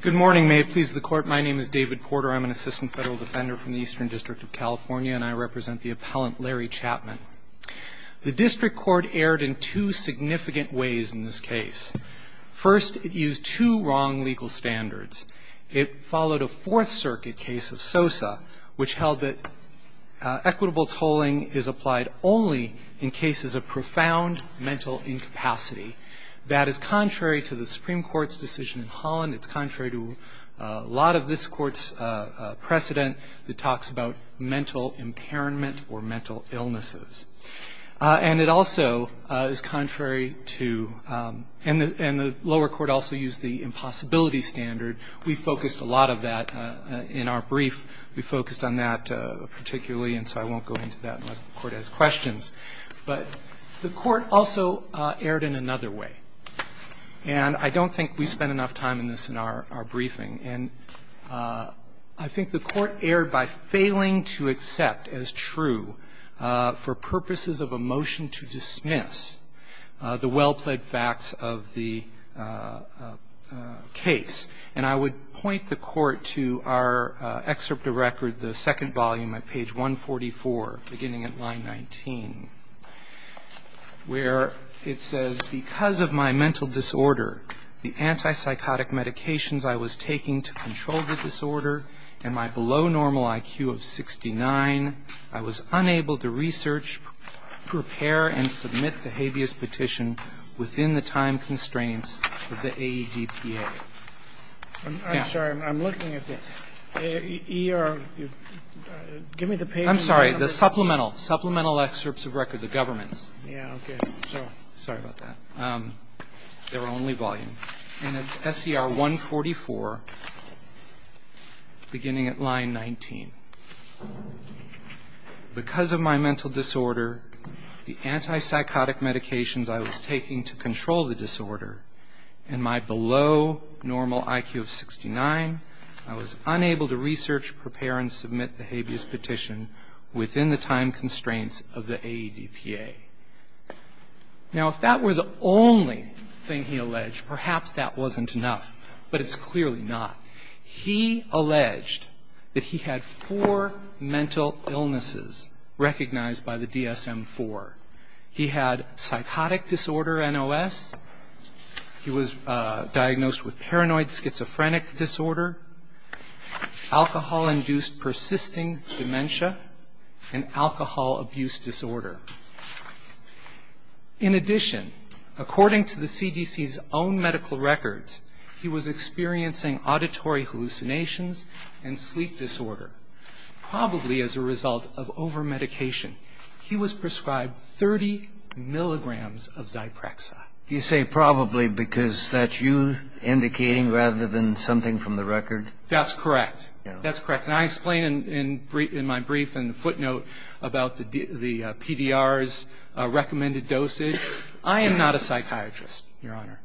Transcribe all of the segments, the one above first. Good morning, may it please the court. My name is David Porter. I'm an assistant federal defender from the Eastern District of California, and I represent the appellant Larry Chatman. The district court erred in two significant ways in this case. First, it used two wrong legal standards. It followed a Fourth Circuit case of Sosa, which held that equitable tolling is applied only in cases of profound mental incapacity. That is contrary to the Supreme Court's decision in Holland. It's contrary to a lot of this Court's precedent that talks about mental impairment or mental illnesses. And it also is contrary to – and the lower court also used the impossibility standard. We focused a lot of that in our brief. We focused on that particularly, and so I won't go into that unless the court has questions. But the court also erred in another way. And I don't think we spent enough time in this in our briefing. And I think the court erred by failing to accept as true for purposes of a motion to dismiss the well-plaid facts of the case. And I would point the court to our excerpt of record, the second volume at page 144, beginning at line 19, where it says, Because of my mental disorder, the antipsychotic medications I was taking to control the disorder, and my below normal IQ of 69, I was unable to research, prepare, and submit the habeas petition within the time constraints of the AEDPA. I'm sorry. I'm looking at this. Give me the page. I'm sorry. The supplemental, supplemental excerpts of record, the government's. Yeah, okay. Sorry about that. Their only volume. And it's SCR 144, beginning at line 19. Because of my mental disorder, the antipsychotic medications I was taking to control the disorder, and my below normal IQ of 69, I was unable to research, prepare, and submit the habeas petition within the time constraints of the AEDPA. Now, if that were the only thing he alleged, perhaps that wasn't enough. But it's clearly not. He alleged that he had four mental illnesses recognized by the DSM-IV. He had psychotic disorder, NOS. He was diagnosed with paranoid schizophrenic disorder, alcohol-induced persisting dementia, and alcohol abuse disorder. In addition, according to the CDC's own medical records, he was experiencing auditory hallucinations and sleep disorder, probably as a result of over-medication. He was prescribed 30 milligrams of Zyprexa. You say probably because that's you indicating rather than something from the record? That's correct. That's correct. Can I explain in my brief and footnote about the PDR's recommended dosage? I am not a psychiatrist, Your Honor.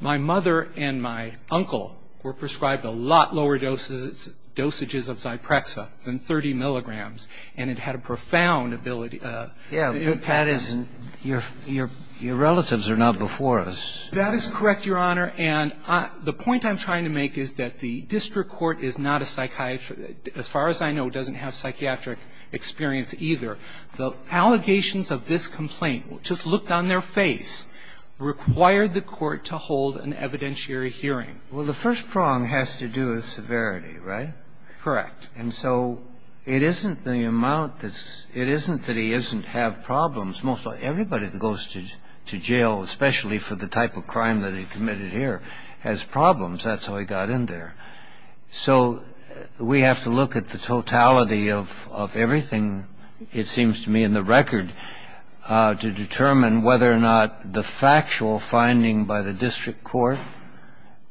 My mother and my uncle were prescribed a lot lower dosages of Zyprexa than 30 milligrams, and it had a profound ability. Yeah. That is your relatives are not before us. That is correct, Your Honor. And the point I'm trying to make is that the district court is not a psychiatrist as far as I know, doesn't have psychiatric experience either. The allegations of this complaint, just looked on their face, required the court to hold an evidentiary hearing. Well, the first prong has to do with severity, right? Correct. And so it isn't the amount that's – it isn't that he doesn't have problems. Everybody that goes to jail, especially for the type of crime that he committed here, has problems. That's how he got in there. So we have to look at the totality of everything, it seems to me, in the record to determine whether or not the factual finding by the district court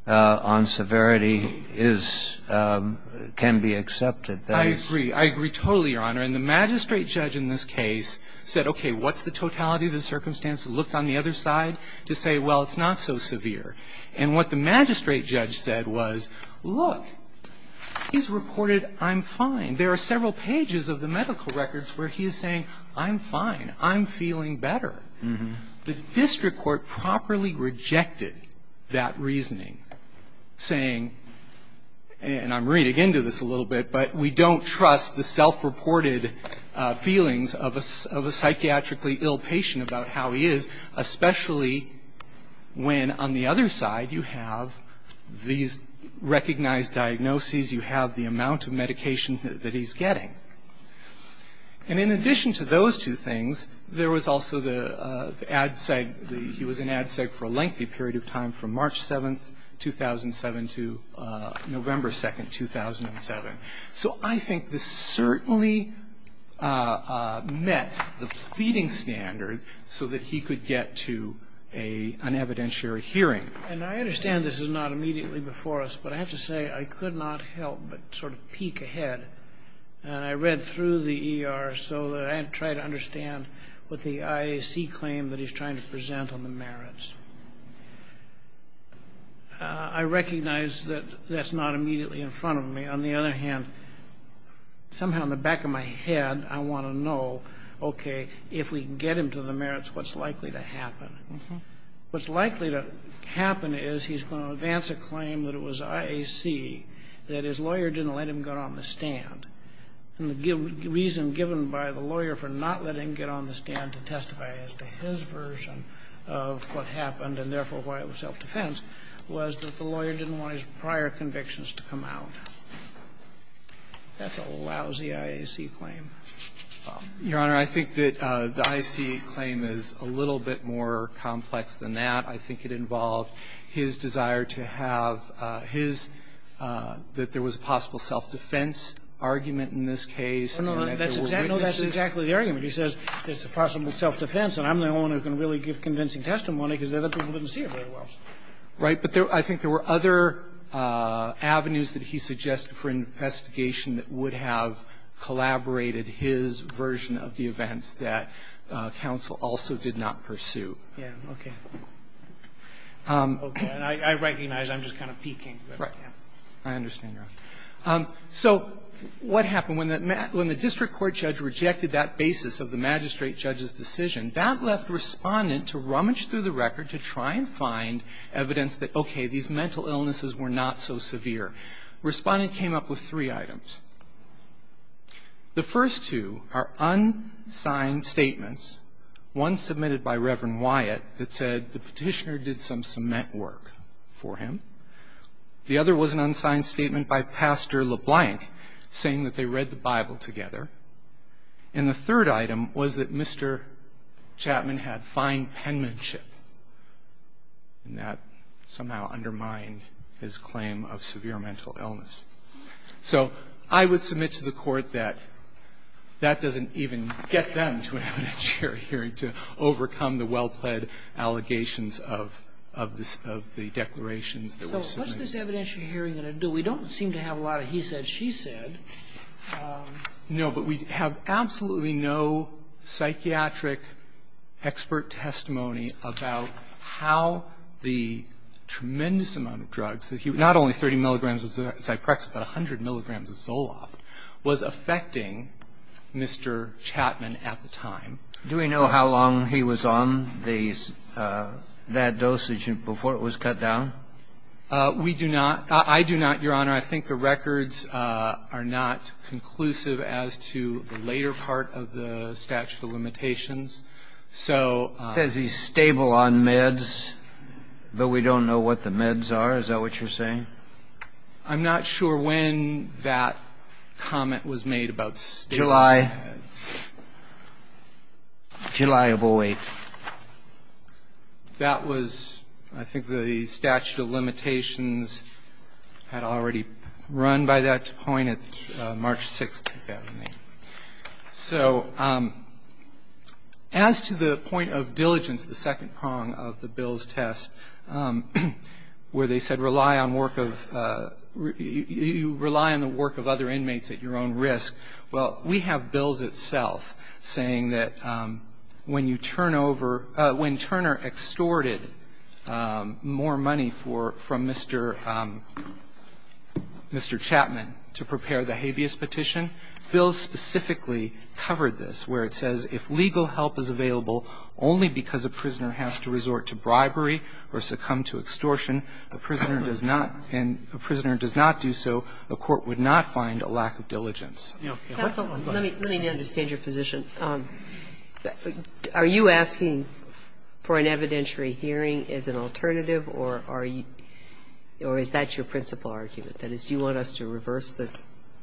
on severity is – can be accepted. I agree. I agree totally, Your Honor. And the magistrate judge in this case said, okay, what's the totality of the circumstances? Looked on the other side to say, well, it's not so severe. And what the magistrate judge said was, look, he's reported I'm fine. There are several pages of the medical records where he is saying, I'm fine. I'm feeling better. The district court properly rejected that reasoning, saying – and I'm reading into this a little bit – but we don't trust the self-reported feelings of a psychiatrically ill patient about how he is, especially when on the other side you have these recognized diagnoses, you have the amount of medication that he's getting. And in addition to those two things, there was also the ad seg – he was in ad seg for a lengthy period of time from March 7th, 2007 to November 2nd, 2007. So I think this certainly met the pleading standard so that he could get to an evidentiary hearing. And I understand this is not immediately before us, but I have to say I could not help but sort of peek ahead. And I read through the ER so that I could try to understand what the IAC claim that I recognize that that's not immediately in front of me. On the other hand, somehow in the back of my head I want to know, okay, if we can get him to the merits, what's likely to happen? What's likely to happen is he's going to advance a claim that it was IAC that his lawyer didn't let him get on the stand. And the reason given by the lawyer for not letting him get on the stand to testify as to his version of what happened and, therefore, why it was self-defense was that the lawyer didn't want his prior convictions to come out. That's a lousy IAC claim. Bob. Your Honor, I think that the IAC claim is a little bit more complex than that. I think it involved his desire to have his – that there was a possible self-defense argument in this case. No, no. That's exactly the argument. He says there's a possible self-defense, and I'm the only one who can really give convincing testimony because the other people didn't see it very well. Right. But there – I think there were other avenues that he suggested for investigation that would have collaborated his version of the events that counsel also did not pursue. Yeah. Okay. Okay. And I recognize I'm just kind of peeking. Right. I understand, Your Honor. So what happened? When the district court judge rejected that basis of the magistrate judge's decision, that left Respondent to rummage through the record to try and find evidence that, okay, these mental illnesses were not so severe. Respondent came up with three items. The first two are unsigned statements, one submitted by Reverend Wyatt that said the Petitioner did some cement work for him. The other was an unsigned statement by Pastor LeBlanc saying that they read the Bible together. And the third item was that Mr. Chapman had fine penmanship, and that somehow undermined his claim of severe mental illness. So I would submit to the Court that that doesn't even get them to an evidence of the declarations that were submitted. So what's this evidentiary hearing going to do? We don't seem to have a lot of he said, she said. No. But we have absolutely no psychiatric expert testimony about how the tremendous amount of drugs that he was using, not only 30 milligrams of Zyprexa, but 100 milligrams of Zoloft, was affecting Mr. Chapman at the time. Do we know how long he was on that dosage before it was cut down? We do not. I do not, Your Honor. I think the records are not conclusive as to the later part of the statute of limitations. So he says he's stable on meds, but we don't know what the meds are. Is that what you're saying? July of 08. That was, I think, the statute of limitations had already run by that point. It's March 6th, if that remains. So as to the point of diligence, the second prong of the bill's test, where they said rely on work of you rely on the work of other inmates at your own risk, well, we have bills itself saying that when you turn over – when Turner extorted more money for – from Mr. – Mr. Chapman to prepare the habeas petition, bills specifically covered this, where it says if legal help is available only because a prisoner has to resort to bribery or succumb to extortion, a prisoner does not – and that's not an easy thing to do. And so I don't think that's what's going on. Let me understand your position. Are you asking for an evidentiary hearing as an alternative, or are you – or is that your principal argument? That is, do you want us to reverse the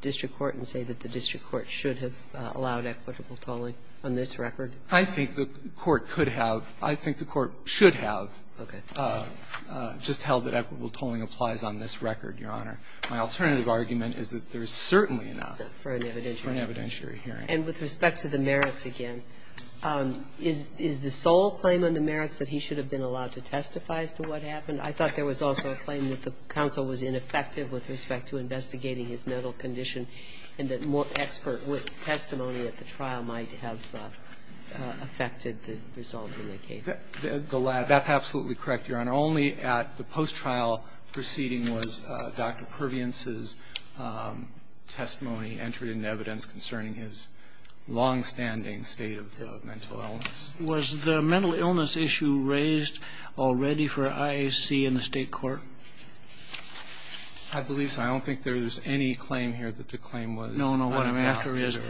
district court and say that the district court should have allowed equitable tolling on this record? I think the court could have – I think the court should have just held that equitable tolling applies on this record, Your Honor. My alternative argument is that there is certainly enough for an evidentiary hearing. And with respect to the merits again, is the sole claim on the merits that he should have been allowed to testify as to what happened? I thought there was also a claim that the counsel was ineffective with respect to investigating his mental condition and that more expert testimony at the trial might have affected the result in the case. The latter. That's absolutely correct, Your Honor. Only at the post-trial proceeding was Dr. Perviance's testimony entered into evidence concerning his longstanding state of mental illness. Was the mental illness issue raised already for IAC and the State court? I believe so. I don't think there's any claim here that the claim was unfair. No, no. What I'm after is,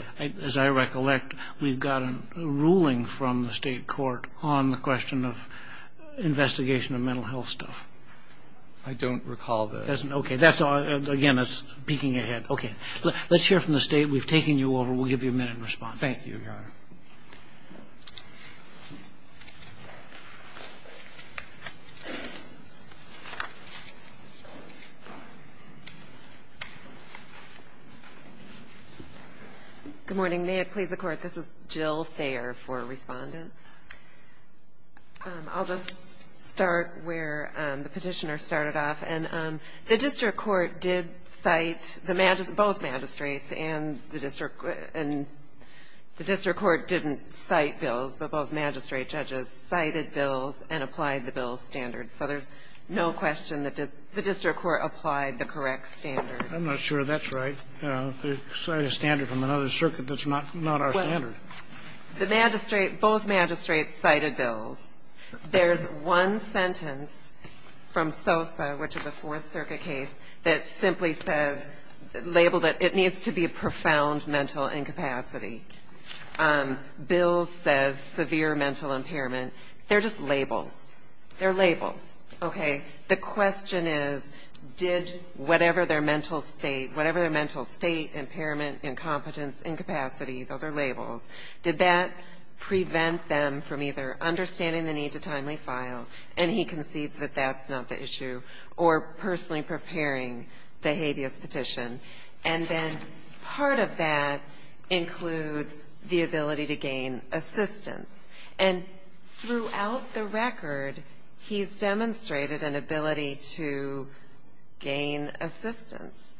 as I recollect, we've got a ruling from the State court on the question of investigation of mental health stuff. I don't recall that. Okay. Again, that's peeking ahead. Okay. Let's hear from the State. We've taken you over. We'll give you a minute in response. Thank you, Your Honor. Good morning. May it please the Court, this is Jill Thayer for Respondent. I'll just start where the Petitioner started off. And the district court did cite the magistrate, both magistrates, and the district court didn't cite bills, but both magistrate judges cited bills and applied the bill's standards. So there's no question that the district court applied the correct standards. I'm not sure that's right. They cite a standard from another circuit that's not our standard. Well, the magistrate, both magistrates cited bills. There's one sentence from SOSA, which is a Fourth Circuit case, that simply says, labeled it, it needs to be a profound mental incapacity. Bills says severe mental impairment. They're just labels. They're labels. Okay. The question is, did whatever their mental state, whatever their mental state, impairment, incompetence, incapacity, those are labels, did that prevent them from either understanding the need to timely file, and he concedes that that's not the issue, or personally preparing the habeas petition. And then part of that includes the ability to gain assistance. And throughout the record, he's demonstrated an ability to gain assistance.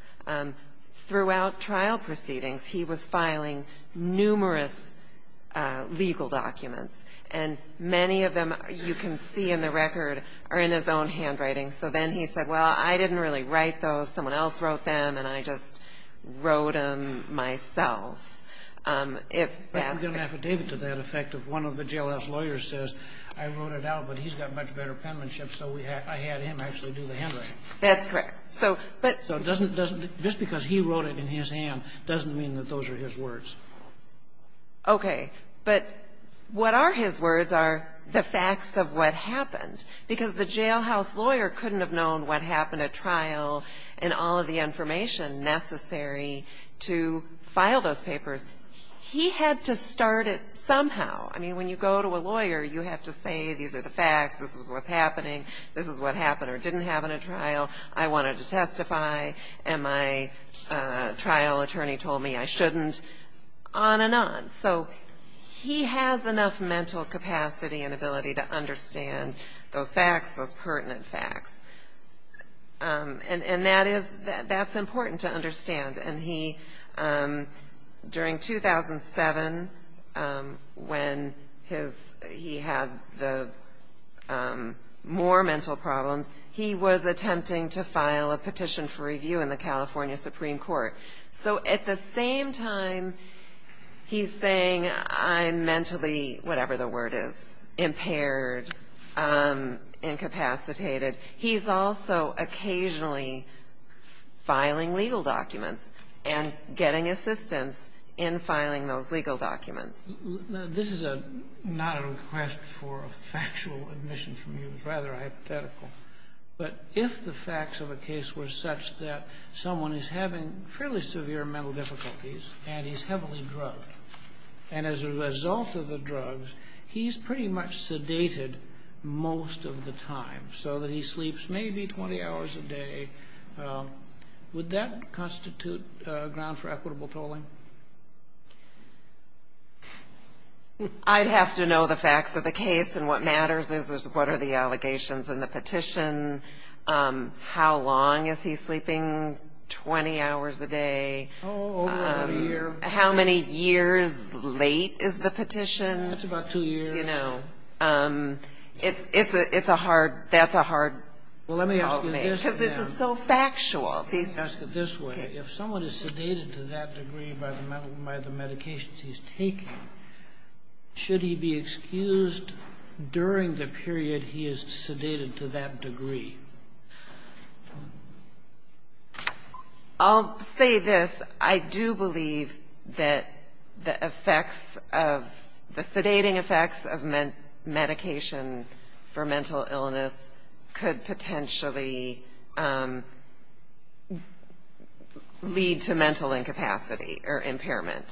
Throughout trial proceedings, he was filing numerous legal documents. And many of them you can see in the record are in his own handwriting. So then he said, well, I didn't really write those. Someone else wrote them, and I just wrote them myself. But there's an affidavit to that effect of one of the jailhouse lawyers says, I wrote it out, but he's got much better penmanship, so I had him actually do the handwriting. That's correct. So, but. Just because he wrote it in his hand doesn't mean that those are his words. Okay. But what are his words are the facts of what happened. Because the jailhouse lawyer couldn't have known what happened at trial and all of the information necessary to file those papers. He had to start it somehow. I mean, when you go to a lawyer, you have to say, these are the facts, this is what's happening, this is what happened or didn't happen at trial, I wanted to testify, and my trial attorney told me I shouldn't, on and on. So he has enough mental capacity and ability to understand those facts, those pertinent facts. And that is, that's important to understand. And he, during 2007, when he had the more mental problems, he was attempting to file a petition for review in the California Supreme Court. So at the same time, he's saying I'm mentally, whatever the word is, impaired, incapacitated. He's also occasionally filing legal documents and getting assistance in filing those legal documents. This is not a request for a factual admission from you. It's rather hypothetical. But if the facts of a case were such that someone is having fairly severe mental difficulties and he's heavily drugged, and as a result of the drugs, he's pretty much sedated most of the time, so that he sleeps maybe 20 hours a day, would that constitute ground for equitable tolling? I'd have to know the facts of the case, and what matters is what are the allegations in the petition, how long is he sleeping, 20 hours a day. Oh, over a year. How many years late is the petition? That's about two years. You know, it's a hard, that's a hard call to make. Well, let me ask you this then. Because this is so factual. Let me ask it this way. If someone is sedated to that degree by the medications he's taking, should he be excused during the period he is sedated to that degree? I'll say this. I do believe that the effects of, the sedating effects of medication for mental illness could potentially lead to mental incapacity or impairment.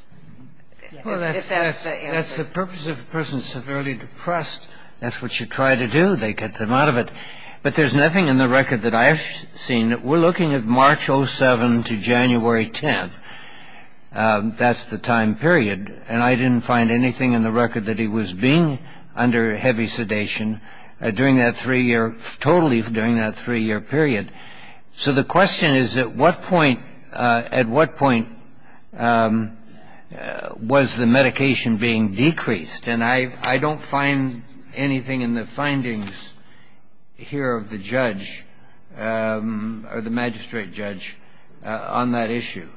If that's the answer. Well, that's the purpose of a person severely depressed. That's what you try to do. They get them out of it. But there's nothing in the record that I've seen. We're looking at March 07 to January 10. That's the time period. And I didn't find anything in the record that he was being under heavy sedation during that three-year, totally during that three-year period. So the question is, at what point, at what point was the medication being decreased? And I don't find anything in the findings here of the judge or the magistrate judge on that issue.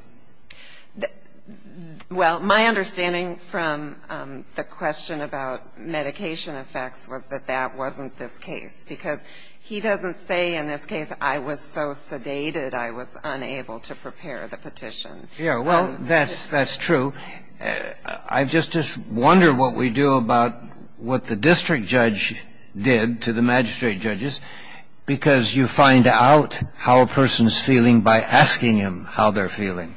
Well, my understanding from the question about medication effects was that that wasn't this case. Because he doesn't say in this case, I was so sedated I was unable to prepare the petition. Yeah, well, that's true. I just wonder what we do about what the district judge did to the magistrate judges. Because you find out how a person is feeling by asking him how they're feeling.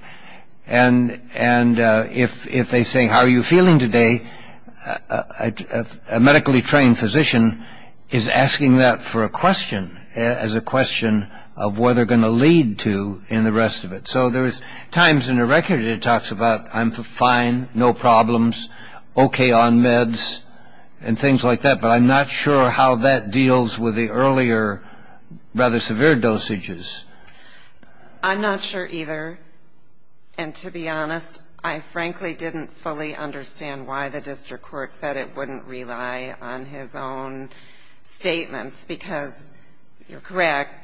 And if they say, how are you feeling today, a medically trained physician is asking that for a question as a question of where they're going to lead to in the rest of it. So there's times in the record it talks about I'm fine, no problems, okay on meds, and things like that. But I'm not sure how that deals with the earlier rather severe dosages. I'm not sure either. And to be honest, I frankly didn't fully understand why the district court said it wouldn't rely on his own statements. Because you're correct.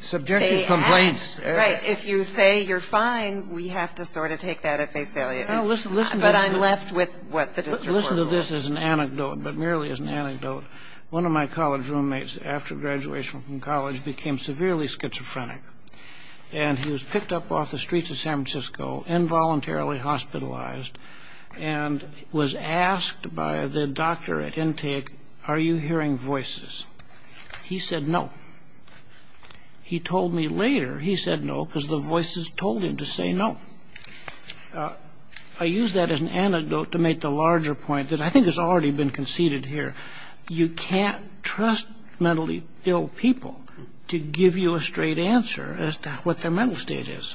Subjective complaints. Right. If you say you're fine, we have to sort of take that at face value. But I'm left with what the district court will say. Listen to this as an anecdote, but merely as an anecdote. One of my college roommates after graduation from college became severely schizophrenic. And he was picked up off the streets of San Francisco, involuntarily hospitalized, and was asked by the doctor at intake, are you hearing voices? He said no. He told me later he said no because the voices told him to say no. I use that as an anecdote to make the larger point that I think has already been conceded here. You can't trust mentally ill people to give you a straight answer as to what their mental state is.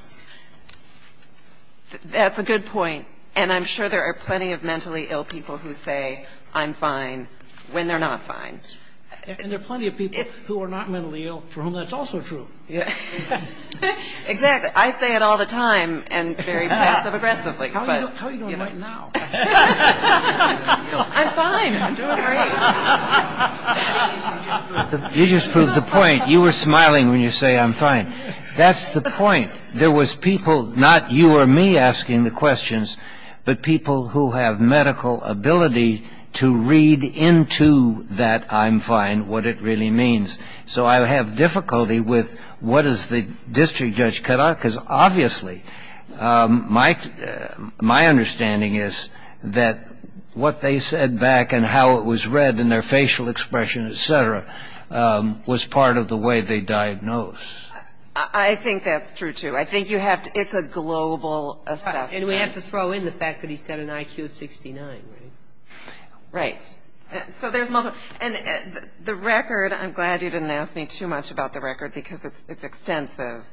That's a good point. And I'm sure there are plenty of mentally ill people who say I'm fine when they're not fine. And there are plenty of people who are not mentally ill for whom that's also true. Exactly. I say it all the time and very passive aggressively. How are you doing right now? I'm fine. I'm doing great. You just proved the point. You were smiling when you say I'm fine. That's the point. There was people, not you or me asking the questions, but people who have medical ability to read into that I'm fine what it really means. So I have difficulty with what does the district judge cut out because obviously my understanding is that what they said back and how it was read and their facial expression, et cetera, was part of the way they diagnosed. I think that's true, too. I think you have to ‑‑ it's a global assessment. And we have to throw in the fact that he's got an IQ of 69, right? Right. So there's multiple. And the record, I'm glad you didn't ask me too much about the record because it's extensive.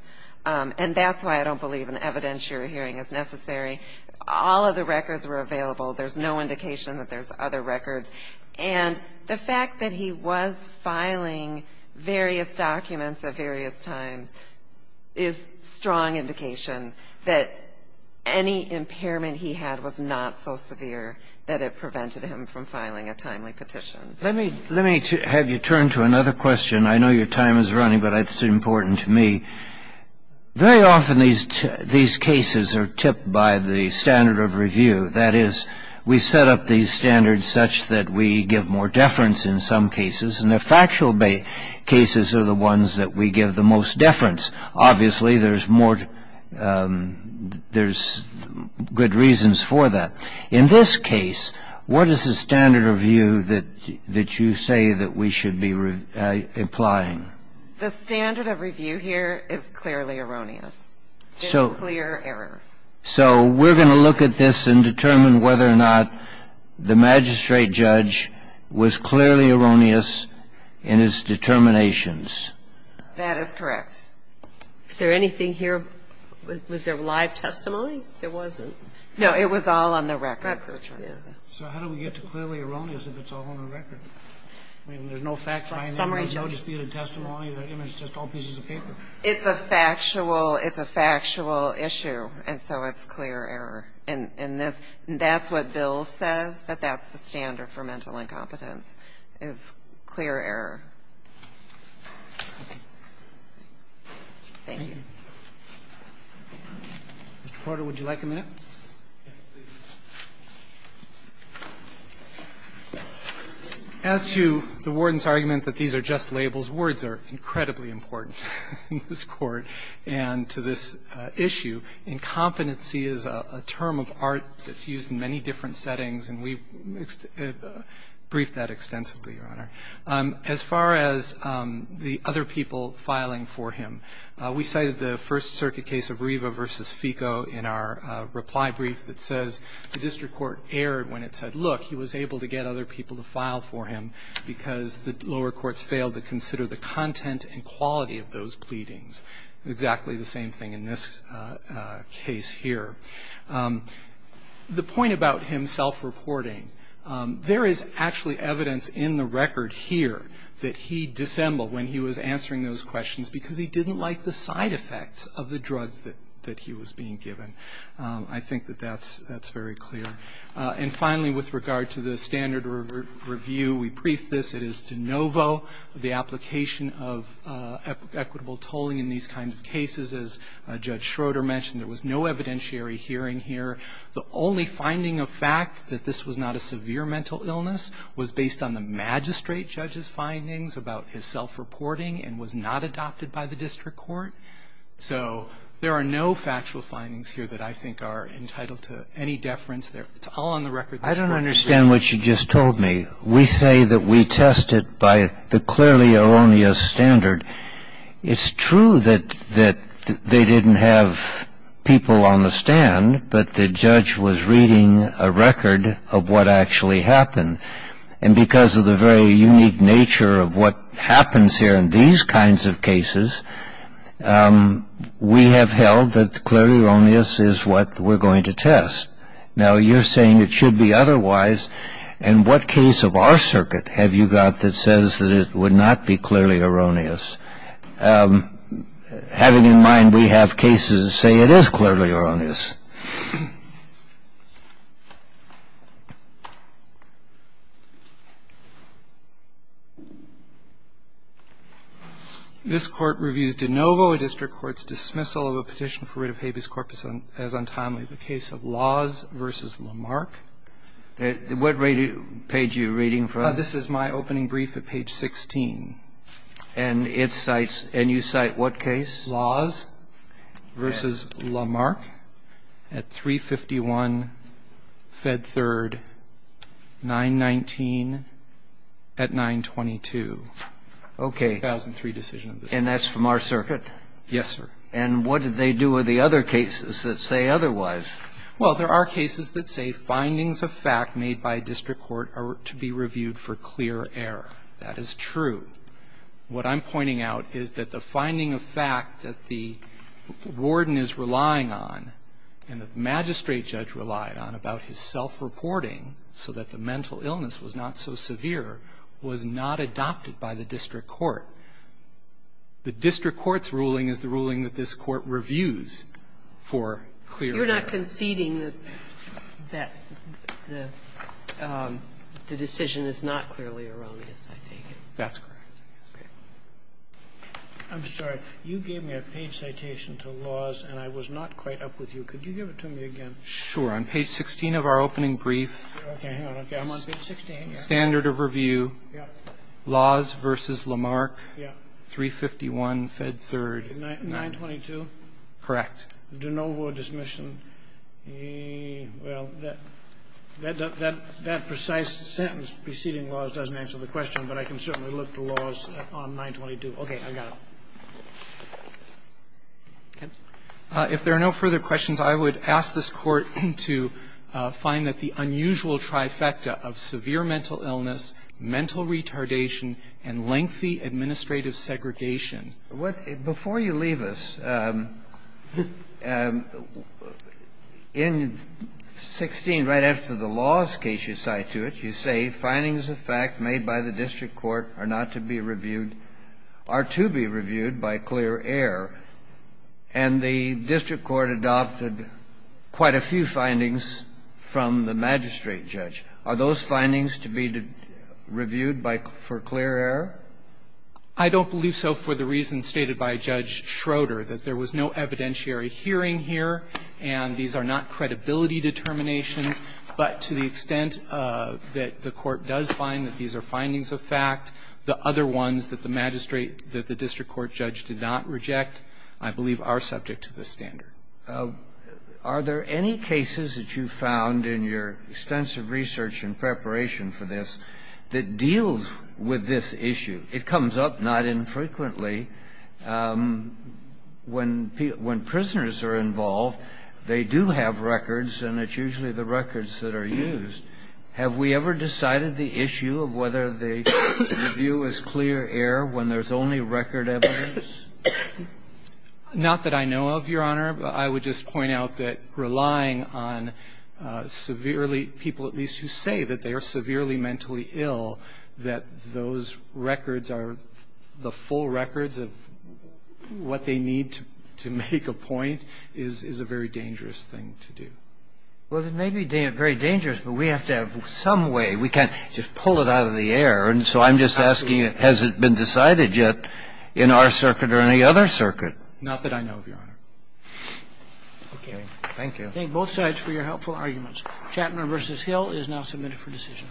And that's why I don't believe an evidentiary hearing is necessary. All of the records were available. There's no indication that there's other records. And the fact that he was filing various documents at various times is strong indication that any impairment he had was not so severe that it prevented him from filing a timely petition. Let me have you turn to another question. I know your time is running, but it's important to me. Very often these cases are tipped by the standard of review. That is, we set up these standards such that we give more deference in some cases, and the factual cases are the ones that we give the most deference. Obviously, there's good reasons for that. In this case, what is the standard of view that you say that we should be applying? The standard of review here is clearly erroneous. There's clear error. So we're going to look at this and determine whether or not the magistrate judge was clearly erroneous in his determinations. That is correct. Is there anything here? Was there live testimony? There wasn't. No, it was all on the record. So how do we get to clearly erroneous if it's all on the record? I mean, there's no fact-finding. There's no disputed testimony. It's just all pieces of paper. It's a factual issue, and so it's clear error. And that's what Bill says, that that's the standard for mental incompetence is clear error. Thank you. Mr. Porter, would you like a minute? Yes, please. As to the Warden's argument that these are just labels, words are incredibly important in this Court and to this issue. Incompetency is a term of art that's used in many different settings, and we've briefed that extensively, Your Honor. As far as the other people filing for him, we cited the First Circuit case of Riva v. Fico in our reply brief that says the district court erred when it said, look, he was able to get other people to file for him because the lower courts failed to consider the content and quality of those pleadings. Exactly the same thing in this case here. The point about him self-reporting, there is actually evidence in the record here that he dissembled when he was answering those questions because he didn't like the side effects of the drugs that he was being given. I think that that's very clear. And finally, with regard to the standard review, we briefed this. It is de novo the application of equitable tolling in these kinds of cases. As Judge Schroeder mentioned, there was no evidentiary hearing here. The only finding of fact that this was not a severe mental illness was based on the magistrate judge's findings about his self-reporting and was not adopted by the district court. So there are no factual findings here that I think are entitled to any deference. It's all on the record. I don't understand what you just told me. We say that we test it by the clearly erroneous standard. It's true that they didn't have people on the stand, but the judge was reading a record of what actually happened. And because of the very unique nature of what happens here in these kinds of cases, we have held that clearly erroneous is what we're going to test. Now, you're saying it should be otherwise. And what case of our circuit have you got that says that it would not be clearly erroneous? Having in mind we have cases say it is clearly erroneous. This Court reviews de novo a district court's dismissal of a petition for writ of habeas corpus as untimely, the case of Laws v. Lamarck. What page are you reading from? This is my opening brief at page 16. And it cites – and you cite what case? Laws v. Lamarck at 351 Fed 3rd, 919 at 922. Okay. 2003 decision. And that's from our circuit? Yes, sir. And what did they do with the other cases that say otherwise? Well, there are cases that say findings of fact made by a district court are to be reviewed for clear error. That is true. What I'm pointing out is that the finding of fact that the warden is relying on and the magistrate judge relied on about his self-reporting so that the mental illness was not so severe was not adopted by the district court. The district court's ruling is the ruling that this Court reviews for clear error. You're not conceding that the decision is not clearly erroneous, I take it? That's correct. Okay. I'm sorry. You gave me a page citation to Laws and I was not quite up with you. Could you give it to me again? Sure. On page 16 of our opening brief. Okay. I'm on page 16. Standard of review. Yeah. Laws v. Lamarck. Yeah. 351 Fed 3rd. 922. Correct. De novo dismission. Well, that precise sentence preceding Laws doesn't answer the question, but I can certainly look to Laws on 922. Okay. I got it. If there are no further questions, I would ask this Court to find that the unusual trifecta of severe mental illness, mental retardation, and lengthy administrative segregation. Before you leave us, in 16, right after the Laws case you cite to it, you say, findings of fact made by the district court are not to be reviewed, are to be reviewed by clear error. And the district court adopted quite a few findings from the magistrate judge. Are those findings to be reviewed for clear error? I don't believe so for the reason stated by Judge Schroeder, that there was no evidentiary hearing here, and these are not credibility determinations. But to the extent that the Court does find that these are findings of fact, the other ones that the magistrate, that the district court judge did not reject, I believe, are subject to the standard. Are there any cases that you found in your extensive research and preparation for this that deals with this issue? It comes up not infrequently. When prisoners are involved, they do have records, and it's usually the records that are used. Have we ever decided the issue of whether the review is clear error when there's only record evidence? Not that I know of, Your Honor. I would just point out that relying on severely, people at least who say that they are severely mentally ill, that those records are the full records of what they need to make a point is a very dangerous thing to do. Well, it may be very dangerous, but we have to have some way. We can't just pull it out of the air. And so I'm just asking, has it been decided yet in our circuit or any other circuit? Not that I know of, Your Honor. Okay. Thank you. Thank both sides for your helpful arguments. Chapman v. Hill is now submitted for decision.